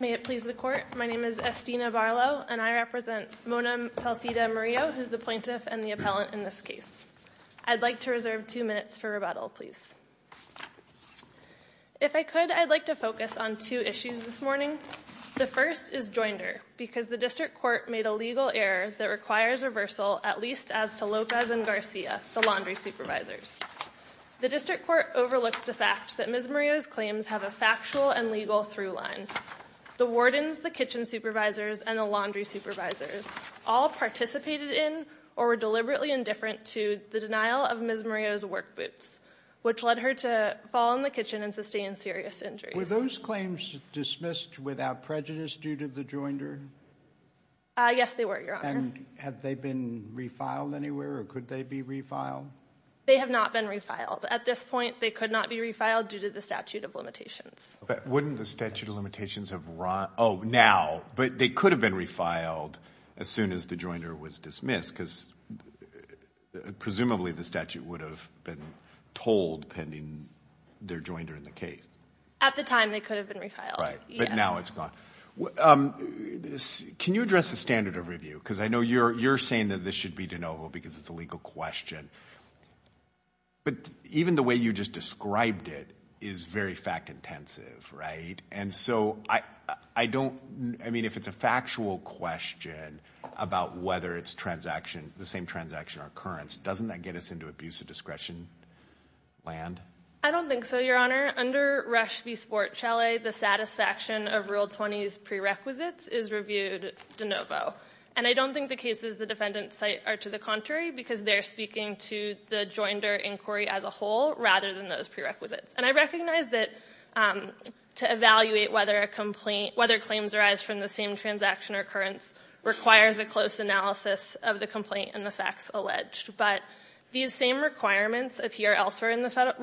May it please the court, my name is Estina Barlow and I represent Mona Salcida Murillo, who's the plaintiff and the appellant in this case. I'd like to reserve two minutes for rebuttal, please. If I could, I'd like to focus on two issues this morning. The first is joinder, because the district court made a legal error that requires reversal, at least as to Lopez and Garcia, the laundry supervisors. The district court overlooked the fact that Ms. Murillo's The wardens, the kitchen supervisors, and the laundry supervisors all participated in or were deliberately indifferent to the denial of Ms. Murillo's work boots, which led her to fall in the kitchen and sustain serious injuries. Were those claims dismissed without prejudice due to the joinder? Yes, they were, Your Honor. And have they been refiled anywhere or could they be refiled? They have not been refiled. At this point, they could not be refiled due to the statute of limitations. But wouldn't the statute of limitations have run, oh now, but they could have been refiled as soon as the joinder was dismissed because presumably the statute would have been told pending their joinder in the case. At the time, they could have been refiled. Right, but now it's gone. Can you address the standard of review? Because I know you're saying that this should be de novo because it's a legal question, but even the way you just described it is very fact intensive, right? And so I don't, I mean, if it's a factual question about whether it's transaction, the same transaction or occurrence, doesn't that get us into abuse of discretion land? I don't think so, Your Honor. Under Rush v. Sport Chalet, the satisfaction of Rule 20's prerequisites is reviewed de novo. And I don't think the cases the defendants cite are to the contrary because they're speaking to the joinder inquiry as a whole rather than those prerequisites. And I recognize that to evaluate whether a complaint, whether claims arise from the same transaction or occurrence requires a close analysis of the complaint and the facts alleged, but these same requirements appear elsewhere in the Federal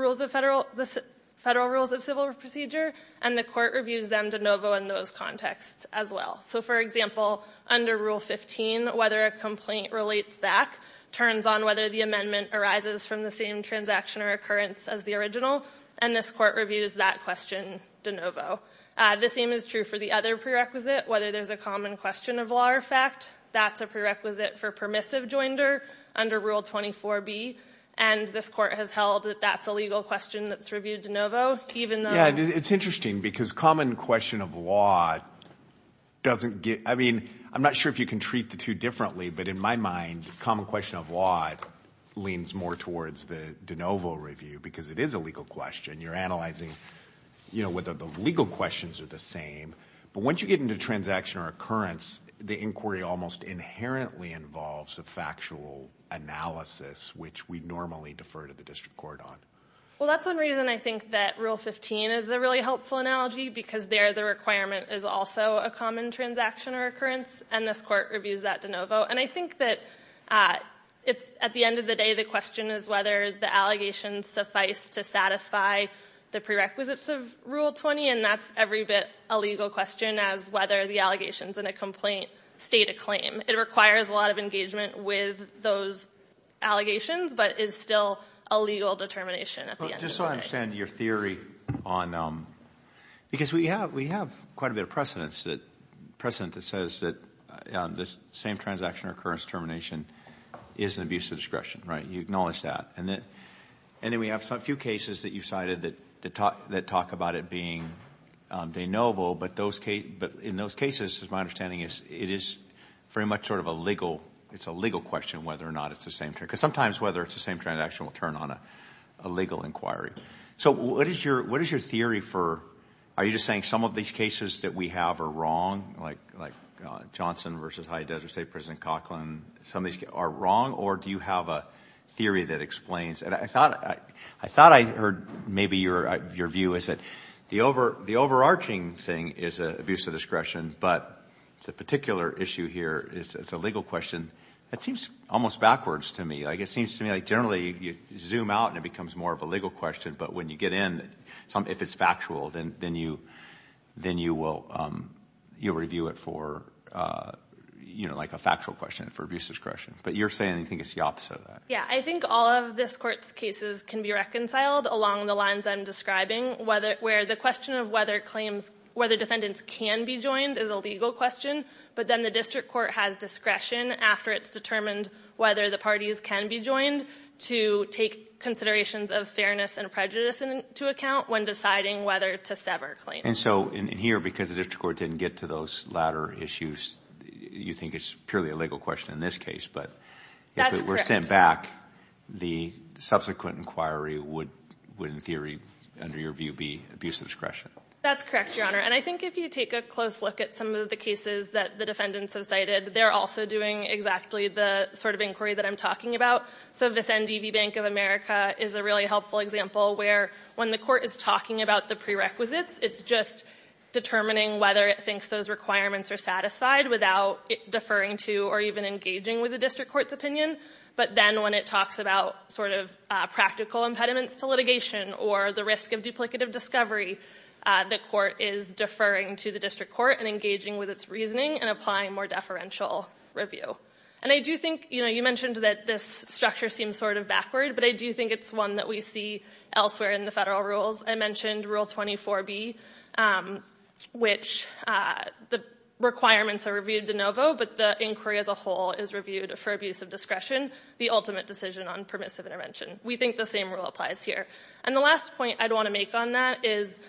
Rules of Civil Procedure and the court reviews them de novo in those contexts as well. So for example, under Rule 15, whether a complaint relates back turns on whether the amendment arises from the same transaction or occurrence as the original, and this court reviews that question de novo. The same is true for the other prerequisite, whether there's a common question of law or fact, that's a prerequisite for permissive joinder under Rule 24b, and this court has held that that's a legal question that's reviewed de novo, even though... Yeah, it's interesting because common question of law doesn't get, I mean, I'm not sure if you can treat the two differently, but in my mind, common question of law leans more towards the de novo review because it is a legal question. You're analyzing, you know, whether the legal questions are the same, but once you get into transaction or occurrence, the inquiry almost inherently involves a factual analysis which we normally defer to the district court on. Well, that's one reason I think that Rule 15 is a really helpful analogy because there the requirement is also a common transaction or occurrence, and this court reviews that de novo, and I think that it's, at the end of the day, the question is whether the allegations suffice to satisfy the prerequisites of Rule 20, and that's every bit a legal question as whether the allegations in a complaint state a claim. It requires a lot of engagement with those allegations, but is still a legal determination at the end. Just so I understand your theory on, because we have quite a bit of precedent that says that the same transaction or occurrence termination is an abuse of discretion, right? You acknowledge that, and then we have a few cases that you've cited that talk about it being de novo, but in those cases, as my understanding is, it is very much sort of a legal, it's a legal question whether or not it's the same transaction will turn on a legal inquiry. So what is your theory for, are you just saying some of these cases that we have are wrong, like Johnson versus High Desert State, President Cochran, some of these are wrong, or do you have a theory that explains? And I thought I heard maybe your view is that the overarching thing is abuse of discretion, but the particular issue here is it's a legal question. That seems almost backwards to me. It seems to me like generally you zoom out and it becomes more of a legal question, but when you get in, if it's factual, then you will review it for a factual question, for abuse of discretion. But you're saying you think it's the opposite of that. Yeah, I think all of this court's cases can be reconciled along the lines I'm describing, where the question of whether defendants can be joined is a legal question, but then the district court has discretion after it's determined whether the parties can be joined to take considerations of fairness and prejudice into account when deciding whether to sever claims. And so in here, because the district court didn't get to those latter issues, you think it's purely a legal question in this case, but if it were sent back, the subsequent inquiry would in theory, under your view, be abuse of discretion. That's correct, Your Honor. And I think if you take a close look at some of the cases that the defendants have cited, they're also doing exactly the sort of inquiry that I'm talking about. So this NDV Bank of America is a really helpful example where when the court is talking about the prerequisites, it's just determining whether it thinks those requirements are satisfied without deferring to or even engaging with the district court's opinion. But then when it talks about practical impediments to litigation or the risk of duplicative discovery, the court is deferring to the district court and engaging with its reasoning and applying more deferential review. And I do think, you mentioned that this structure seems sort of backward, but I do think it's one that we see elsewhere in the federal rules. I mentioned Rule 24B, which the requirements are reviewed de novo, but the inquiry as a whole is reviewed for abuse of discretion, the ultimate decision on permissive intervention. We think the same rule applies here. And the last point I'd want to make on that is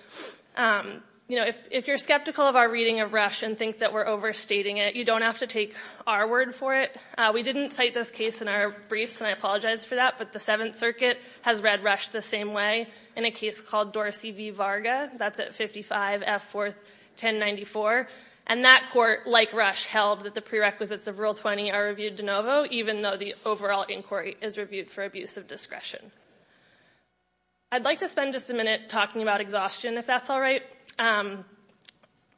if you're skeptical of our reading of Rush and think that we're overstating it, you don't have to take our word for it. We didn't cite this case in our briefs, and I apologize for that, but the Seventh Circuit has read Rush the same way in a case called Dorsey v. Varga. That's at 55 F. 4th 1094. And that court, like Rush, held that the prerequisites of Rule 20 are reviewed de novo, even though the overall inquiry is reviewed for abuse of discretion. I'd like to spend just a minute talking about exhaustion, if that's all right.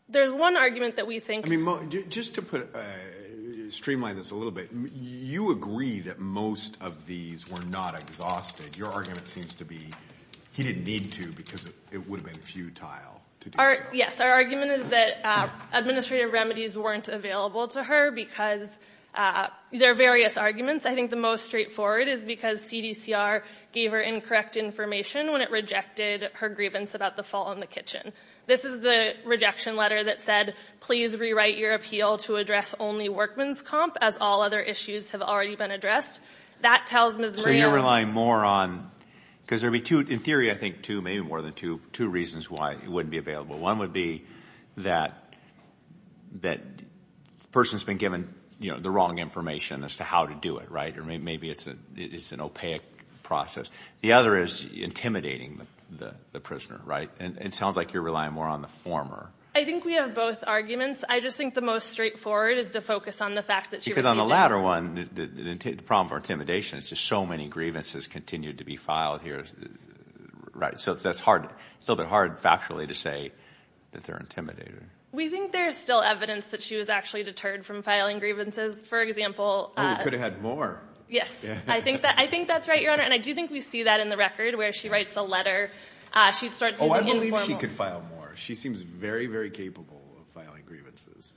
There's one argument that we think... I mean, just to streamline this a little bit, you agree that most of these were not exhausted. Your argument seems to be he didn't need to because it would have been futile to do so. Yes. Our argument is that administrative remedies weren't available to her because there are various arguments. I think the most straightforward is because CDCR gave her incorrect information when it rejected her grievance about the fall in the kitchen. This is the rejection letter that said, please rewrite your appeal to address only Workman's Comp, as all other issues have already been addressed. That tells Ms. Maria... So you're relying more on... Because there would be two, in theory, I think two, maybe available. One would be that the person's been given the wrong information as to how to do it, right? Maybe it's an opaque process. The other is intimidating the prisoner, right? It sounds like you're relying more on the former. I think we have both arguments. I just think the most straightforward is to focus on the fact that she received... Because on the latter one, the problem for intimidation is just so many grievances continue to be filed here. So it's a little bit hard factually to say that they're intimidating. We think there's still evidence that she was actually deterred from filing grievances. For example... She could have had more. Yes. I think that's right, Your Honor. And I do think we see that in the record where she writes a letter. She starts using informal... Oh, I believe she could file more. She seems very, very capable of filing grievances.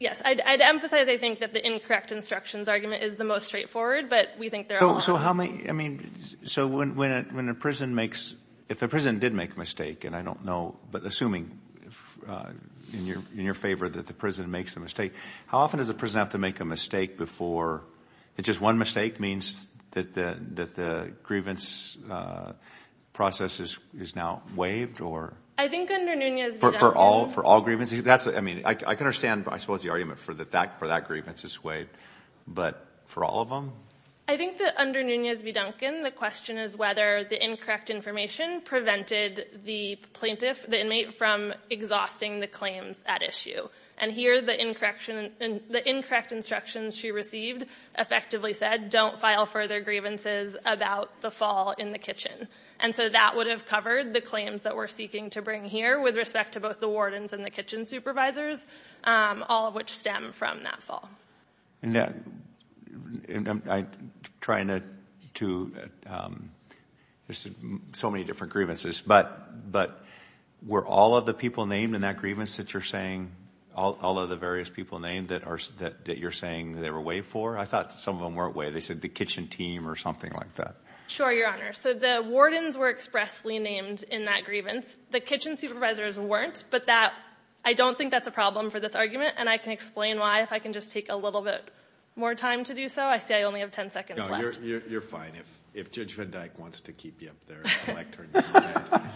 Yes. I'd emphasize, I think, that the incorrect instructions argument is the most straightforward, but we think there are a lot... I mean, so when a prison makes... If a prison did make a mistake, and I don't know, but assuming in your favor that the prison makes a mistake, how often does a prison have to make a mistake before... That just one mistake means that the grievance process is now waived or... I think under Nunez- For all grievances? I mean, I can understand, I suppose, the argument for that grievance is waived, but for all of them? I think that under Nunez v. Duncan, the question is whether the incorrect information prevented the plaintiff, the inmate, from exhausting the claims at issue. And here, the incorrect instructions she received effectively said, don't file further grievances about the fall in the kitchen. And so that would have covered the claims that we're seeking to bring here with respect to both the wardens and the kitchen supervisors, all of which stem from that fall. And I'm trying to... There's so many different grievances, but were all of the people named in that grievance that you're saying, all of the various people named that you're saying they were waived for? I thought some of them weren't waived. They said the kitchen team or something like that. Sure, Your Honor. So the wardens were expressly named in that grievance. The kitchen supervisors weren't, but that... I don't think that's a problem for this argument, and I can explain why if I can just take a little bit more time to do so. I see I only have 10 seconds left. You're fine. If Judge Van Dyke wants to keep you up there, I'd like to turn this around.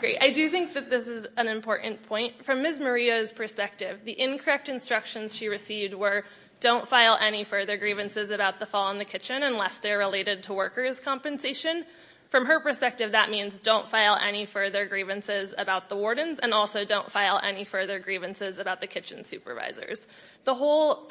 Great. I do think that this is an important point. From Ms. Maria's perspective, the incorrect instructions she received were, don't file any further grievances about the fall in the kitchen unless they're related to workers' compensation. From her perspective, that means don't file any further grievances about the wardens and also don't file any further grievances about the kitchen supervisors. The whole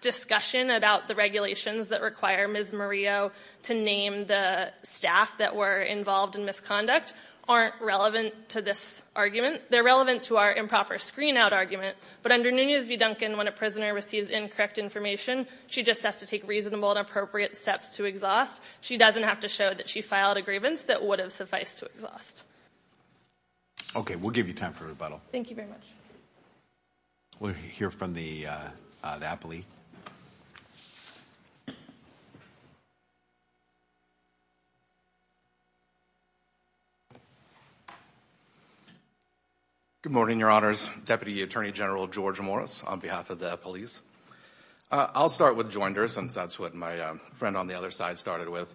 discussion about the regulations that require Ms. Maria to name the staff that were involved in misconduct aren't relevant to this argument. They're relevant to our improper screen-out argument, but under Nunez v. Duncan, when a prisoner receives incorrect information, she just has to take reasonable and appropriate steps to exhaust. She doesn't have to show that she filed a grievance that would have sufficed to exhaust. Okay. We'll give you time for rebuttal. Thank you very much. We'll hear from the appellee. Good morning, Your Honors. Deputy Attorney General George Morris on behalf of the police. I'll start with Joinders since that's what my friend on the other side started with.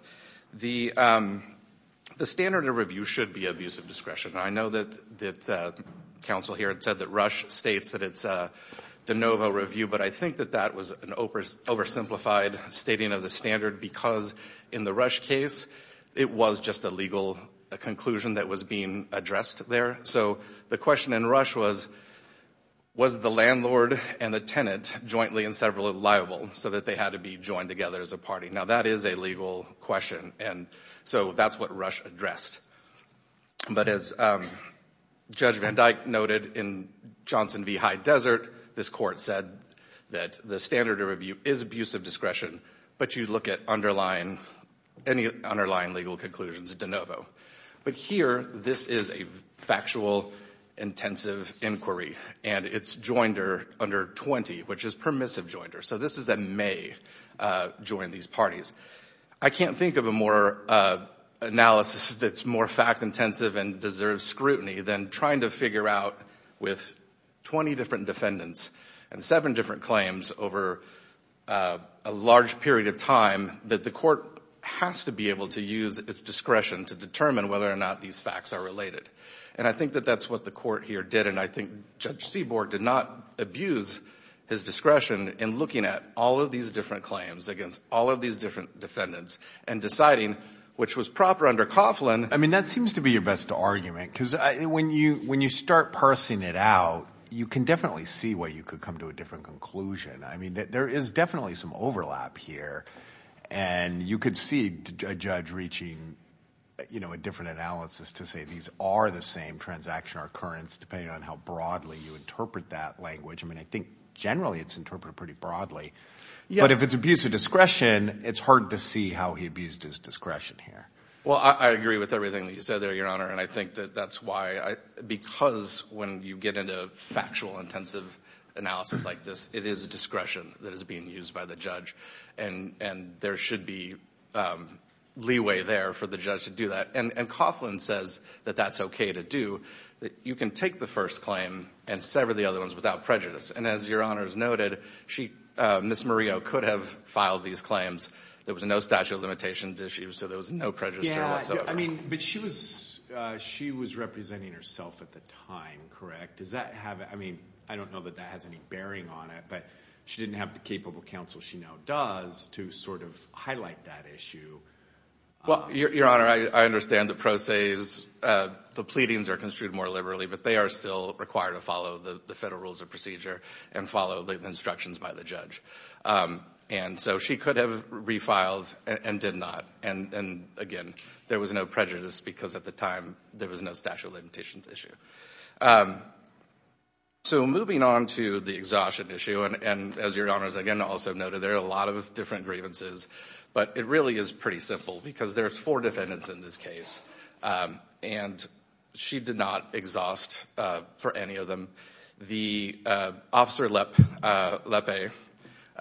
The standard of review should be abuse of discretion. I know that council here said that Rush states that it's a de novo review, but I think that that was an oversimplified stating of the standard because in the Rush case, it was just a legal conclusion that was being addressed there. So the question in Rush was, was the landlord and the tenant jointly and several liable so that they had to be joined together as a party? Now, that is a legal question, and so that's what Rush addressed. But as Judge Van Dyke noted in Johnson v. High Desert, this court said that the standard of review is abuse of discretion, but you look at any underlying legal conclusions de novo. But here, this is a factual, intensive inquiry, and it's Joinder under 20, which is permissive Joinder. So this is a may-join these parties. I can't think of a more analysis that's more fact-intensive and deserves scrutiny than trying to figure out with 20 different defendants and seven different claims over a large period of time that the court has to be able to use its discretion to determine whether or not these facts are related. And I think that the court here did, and I think Judge Seaborg did not abuse his discretion in looking at all of these different claims against all of these different defendants and deciding, which was proper under Coughlin. I mean, that seems to be your best argument, because when you start parsing it out, you can definitely see why you could come to a different conclusion. I mean, there is definitely some overlap here, and you could see a judge reaching a different analysis to say these are the same transaction or occurrence, depending on how broadly you interpret that language. I mean, I think generally it's interpreted pretty broadly. But if it's abuse of discretion, it's hard to see how he abused his discretion here. Well, I agree with everything that you said there, Your Honor. And I think that that's why, because when you get into factual, intensive analysis like this, it is discretion that is being used by the judge. And there should be leeway there for the judge to do that. And Coughlin says that that's okay to do, that you can take the first claim and sever the other ones without prejudice. And as Your Honor has noted, Ms. Murillo could have filed these claims. There was no statute of limitations issue, so there was no prejudice there whatsoever. I mean, but she was representing herself at the time, correct? I mean, I don't know that that has any bearing on it, but she didn't have the capable counsel she now does to sort of highlight that issue. Well, Your Honor, I understand the pro se's, the pleadings are construed more liberally, but they are still required to follow the federal rules of procedure and follow the instructions by the judge. And so she could have refiled and did not. And again, there was no prejudice because at the time there was no statute of limitations issue. So moving on to the exhaustion issue, and as Your Honor has again also noted, there are a lot of different grievances, but it really is pretty simple because there's four defendants in this case and she did not exhaust for any of them. The Officer Lepe,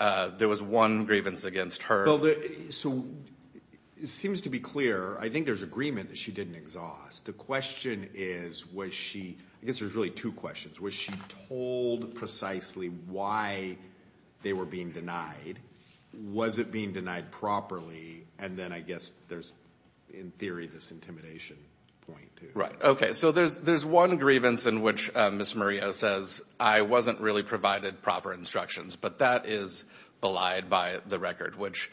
there was one grievance against her. So it seems to be clear, I think there's agreement that she didn't exhaust. The question is, was she, I guess there's really two questions. Was she told precisely why they were being denied? Was it being denied properly? And then I guess there's in theory this intimidation point too. Right. Okay. So there's one grievance in which Ms. Murillo says, I wasn't really provided proper instructions, but that is belied by the record, which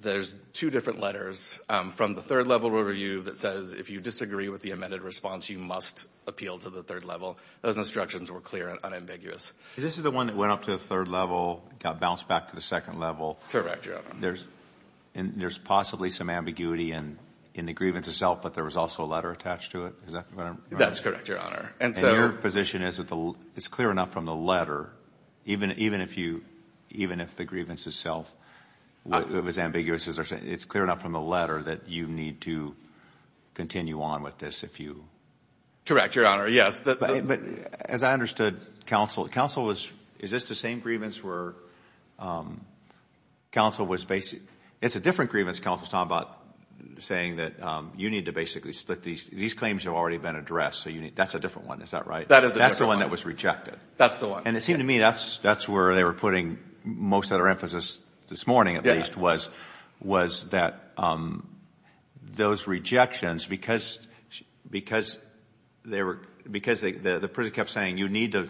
there's two different letters from the third level review that says, if you disagree with the amended response, you must appeal to the third level. Those instructions were clear and unambiguous. This is the one that went up to the third level, got bounced back to the second level. Correct, Your Honor. There's possibly some ambiguity in the grievance itself, but there was also a letter attached to it. Is that what I'm... That's correct, Your Honor. And your position is that it's clear enough from the letter, even if the grievance itself was ambiguous, it's clear enough from the letter that you need to continue on with this if you... Correct, Your Honor. Yes. But as I understood counsel, is this the same grievance where counsel was basically... It's a different grievance counsel's talking about saying that you need to basically split these. These claims have already been addressed, so that's a different one. Is that right? That is a different one. That's the one that was rejected. That's the one. And it seemed to me that's where they were putting most of their emphasis this morning, was that those rejections, because the person kept saying you need to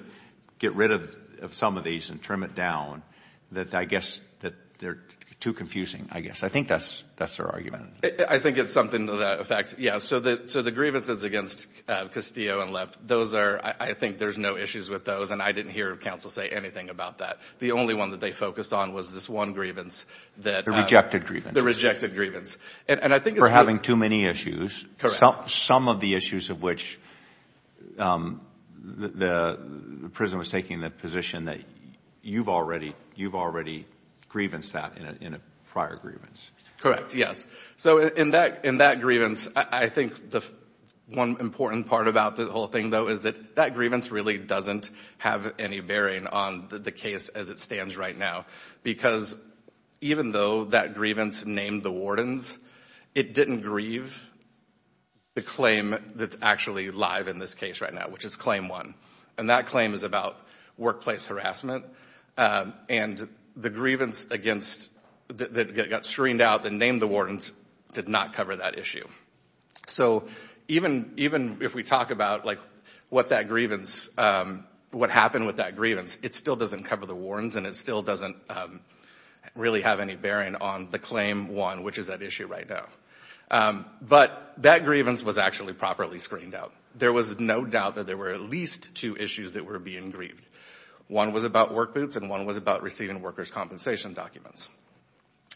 get rid of some of these and trim it down, that I guess that they're too confusing, I guess. I think that's their argument. I think it's something that affects... Yeah, so the grievances against Castillo and Lipp, those are... I think there's no issues with those, and I didn't hear counsel say anything about that. The only one that they focused on was this one grievance that... The rejected grievance. The rejected grievance. And I think it's... For having too many issues. Correct. Some of the issues of which the prison was taking the position that you've already grievanced that in a prior grievance. Correct, yes. So in that grievance, I think the one important part about the whole thing though is that that grievance really doesn't have any bearing on the case as it stands right now. Because even though that grievance named the wardens, it didn't grieve the claim that's actually live in this case right now, which is claim one. And that claim is about workplace harassment. And the grievance against... That got screened out and named the wardens did not cover that issue. So even if we talk about what that grievance... What happened with that grievance, it still doesn't cover the wardens and it still doesn't really have any bearing on the claim one, which is that issue right now. But that grievance was actually properly screened out. There was no doubt that there were at least two issues that were being grieved. One was about work boots and one was about receiving workers' compensation documents.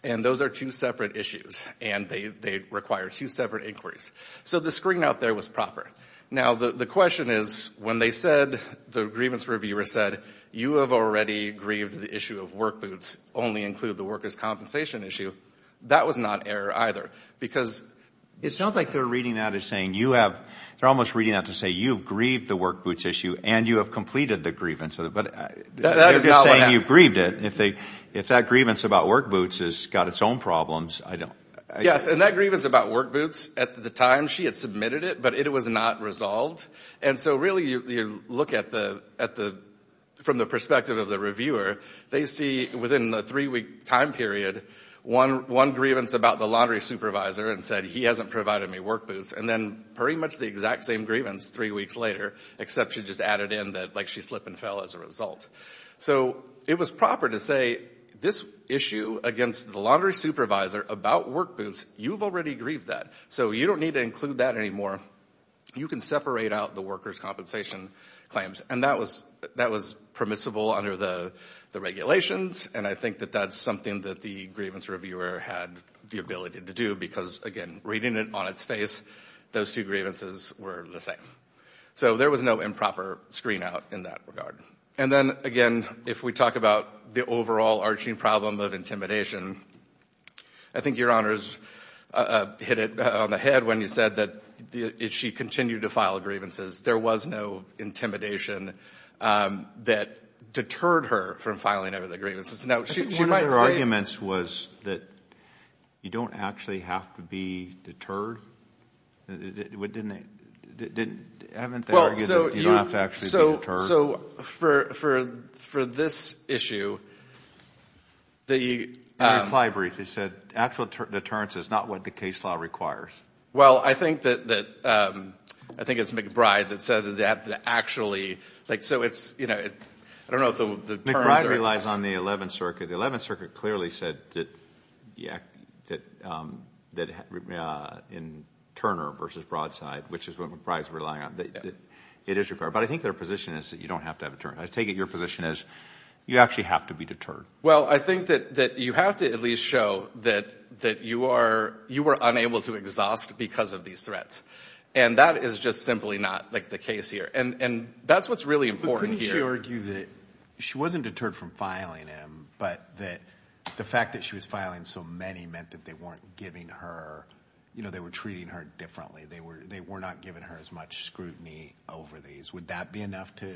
And those are two separate issues and they require two separate inquiries. So the screen out there was proper. Now the question is, when they said, the grievance reviewer said, you have already grieved the issue of work boots, only include the workers' compensation issue. That was not error either. Because it sounds like they're reading that as saying you have... They're almost reading that to say you've grieved the work boots issue and you have completed the grievance. But they're just saying you've grieved it. If that grievance about work boots has got its own problems, I don't... Yes. And that grievance about work boots, at the time she had submitted it, but it was not resolved. And so really you look from the perspective of the reviewer, they see within the three-week time period, one grievance about the laundry supervisor and said, he hasn't provided me work boots. And then pretty much the exact same grievance three weeks later, except she just added in that she slip and fell as a result. So it was proper to say, this issue against the laundry supervisor about work boots, you've already grieved that. So you don't need to include that anymore. You can separate out the workers' compensation claims. And that was permissible under the regulations. And I think that that's something that the grievance reviewer had the ability to do. Because again, reading it on its face, those two grievances were the same. So there was no improper screen out in that regard. And then again, if we talk about the overall arching problem of intimidation, I think Your Honors hit it on the head when you said that she continued to file grievances. There was no intimidation that deterred her from filing any of the grievances. Now, she might say... One of her arguments was that you don't actually have to be deterred. Haven't they argued that you don't have to actually be deterred? So for this issue, the... Reply briefly. He said actual deterrence is not what the case law requires. Well, I think it's McBride that said that actually... I don't know if the terms are... In Turner versus Broadside, which is what McBride's relying on, it is required. But I think their position is that you don't have to have a deterrent. I take it your position is you actually have to be deterred. Well, I think that you have to at least show that you were unable to exhaust because of these threats. And that is just simply not the case here. And that's what's really important here. But couldn't she argue that she wasn't deterred from filing him, but that the fact that she was filing so many meant that they weren't giving her... You know, they were treating her differently. They were not giving her as much scrutiny over these. Would that be enough to...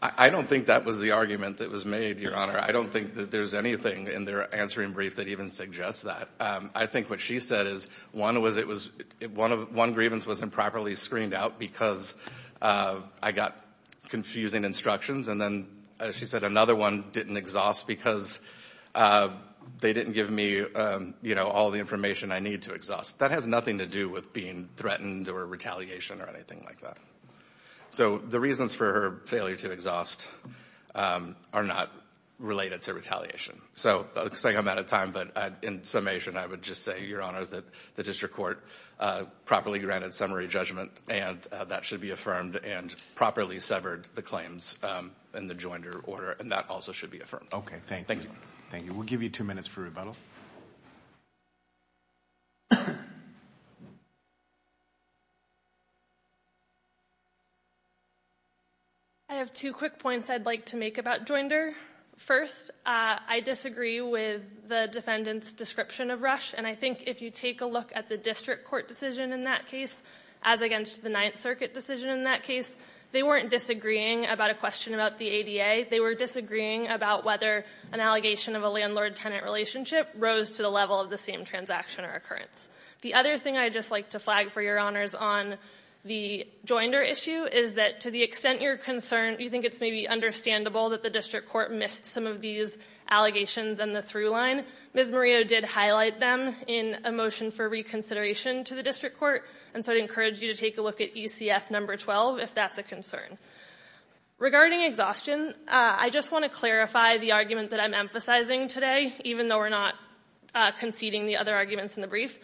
I don't think that was the argument that was made, Your Honor. I don't think that there's anything in their answering brief that even suggests that. I think what she said is one was it was... One grievance wasn't properly screened out because I got confusing instructions. And then she said another one didn't exhaust because they didn't give me all the information I need to exhaust. That has nothing to do with being threatened or retaliation or anything like that. So the reasons for her failure to exhaust are not related to retaliation. So I'm saying I'm out of time, but in summation, I would just say, the district court properly granted summary judgment and that should be affirmed and properly severed the claims in the Joinder order. And that also should be affirmed. Okay. Thank you. Thank you. We'll give you two minutes for rebuttal. I have two quick points I'd like to make about Joinder. First, I disagree with the defendant's description of Rush. And I think if you take a look at the district court decision in that case, as against the Ninth Circuit decision in that case, they weren't disagreeing about a question about the ADA. They were disagreeing about whether an allegation of a landlord-tenant relationship rose to the level of the same transaction or occurrence. The other thing I'd just like to flag for Your Honors on the Joinder issue is that to the extent you're concerned, you think it's maybe understandable that the district court missed some of these allegations and the through Ms. Murillo did highlight them in a motion for reconsideration to the district court. And so I'd encourage you to take a look at ECF number 12 if that's a concern. Regarding exhaustion, I just want to clarify the argument that I'm emphasizing today, even though we're not conceding the other arguments in the brief.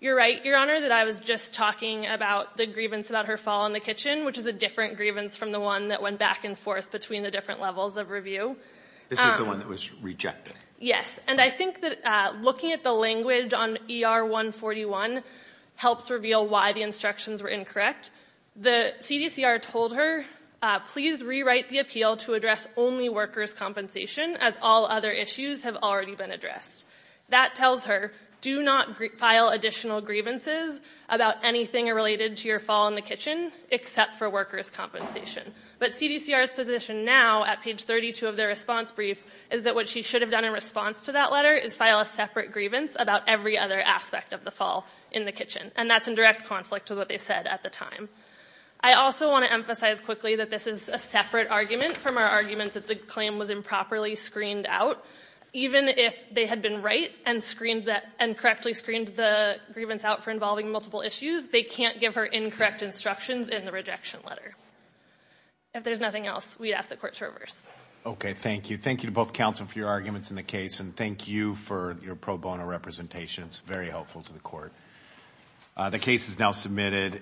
You're right, Your Honor, that I was just talking about the grievance about her fall in the kitchen, which is a different grievance from the one that went back and forth between the different levels of review. This is the one that was rejected. Yes, and I think that looking at the language on ER 141 helps reveal why the instructions were incorrect. The CDCR told her, please rewrite the appeal to address only workers' compensation, as all other issues have already been addressed. That tells her, do not file additional grievances about anything related to your fall in the kitchen. And that's in direct conflict with what they said at the time. I also want to emphasize quickly that this is a separate argument from our argument that the claim was improperly screened out. Even if they had been right and correctly screened the grievance out for involving multiple issues, they can't give her incorrect instructions in the case. Thank you. Thank you to both counsel for your arguments in the case and thank you for your pro bono representation. It's very helpful to the court. The case is now submitted.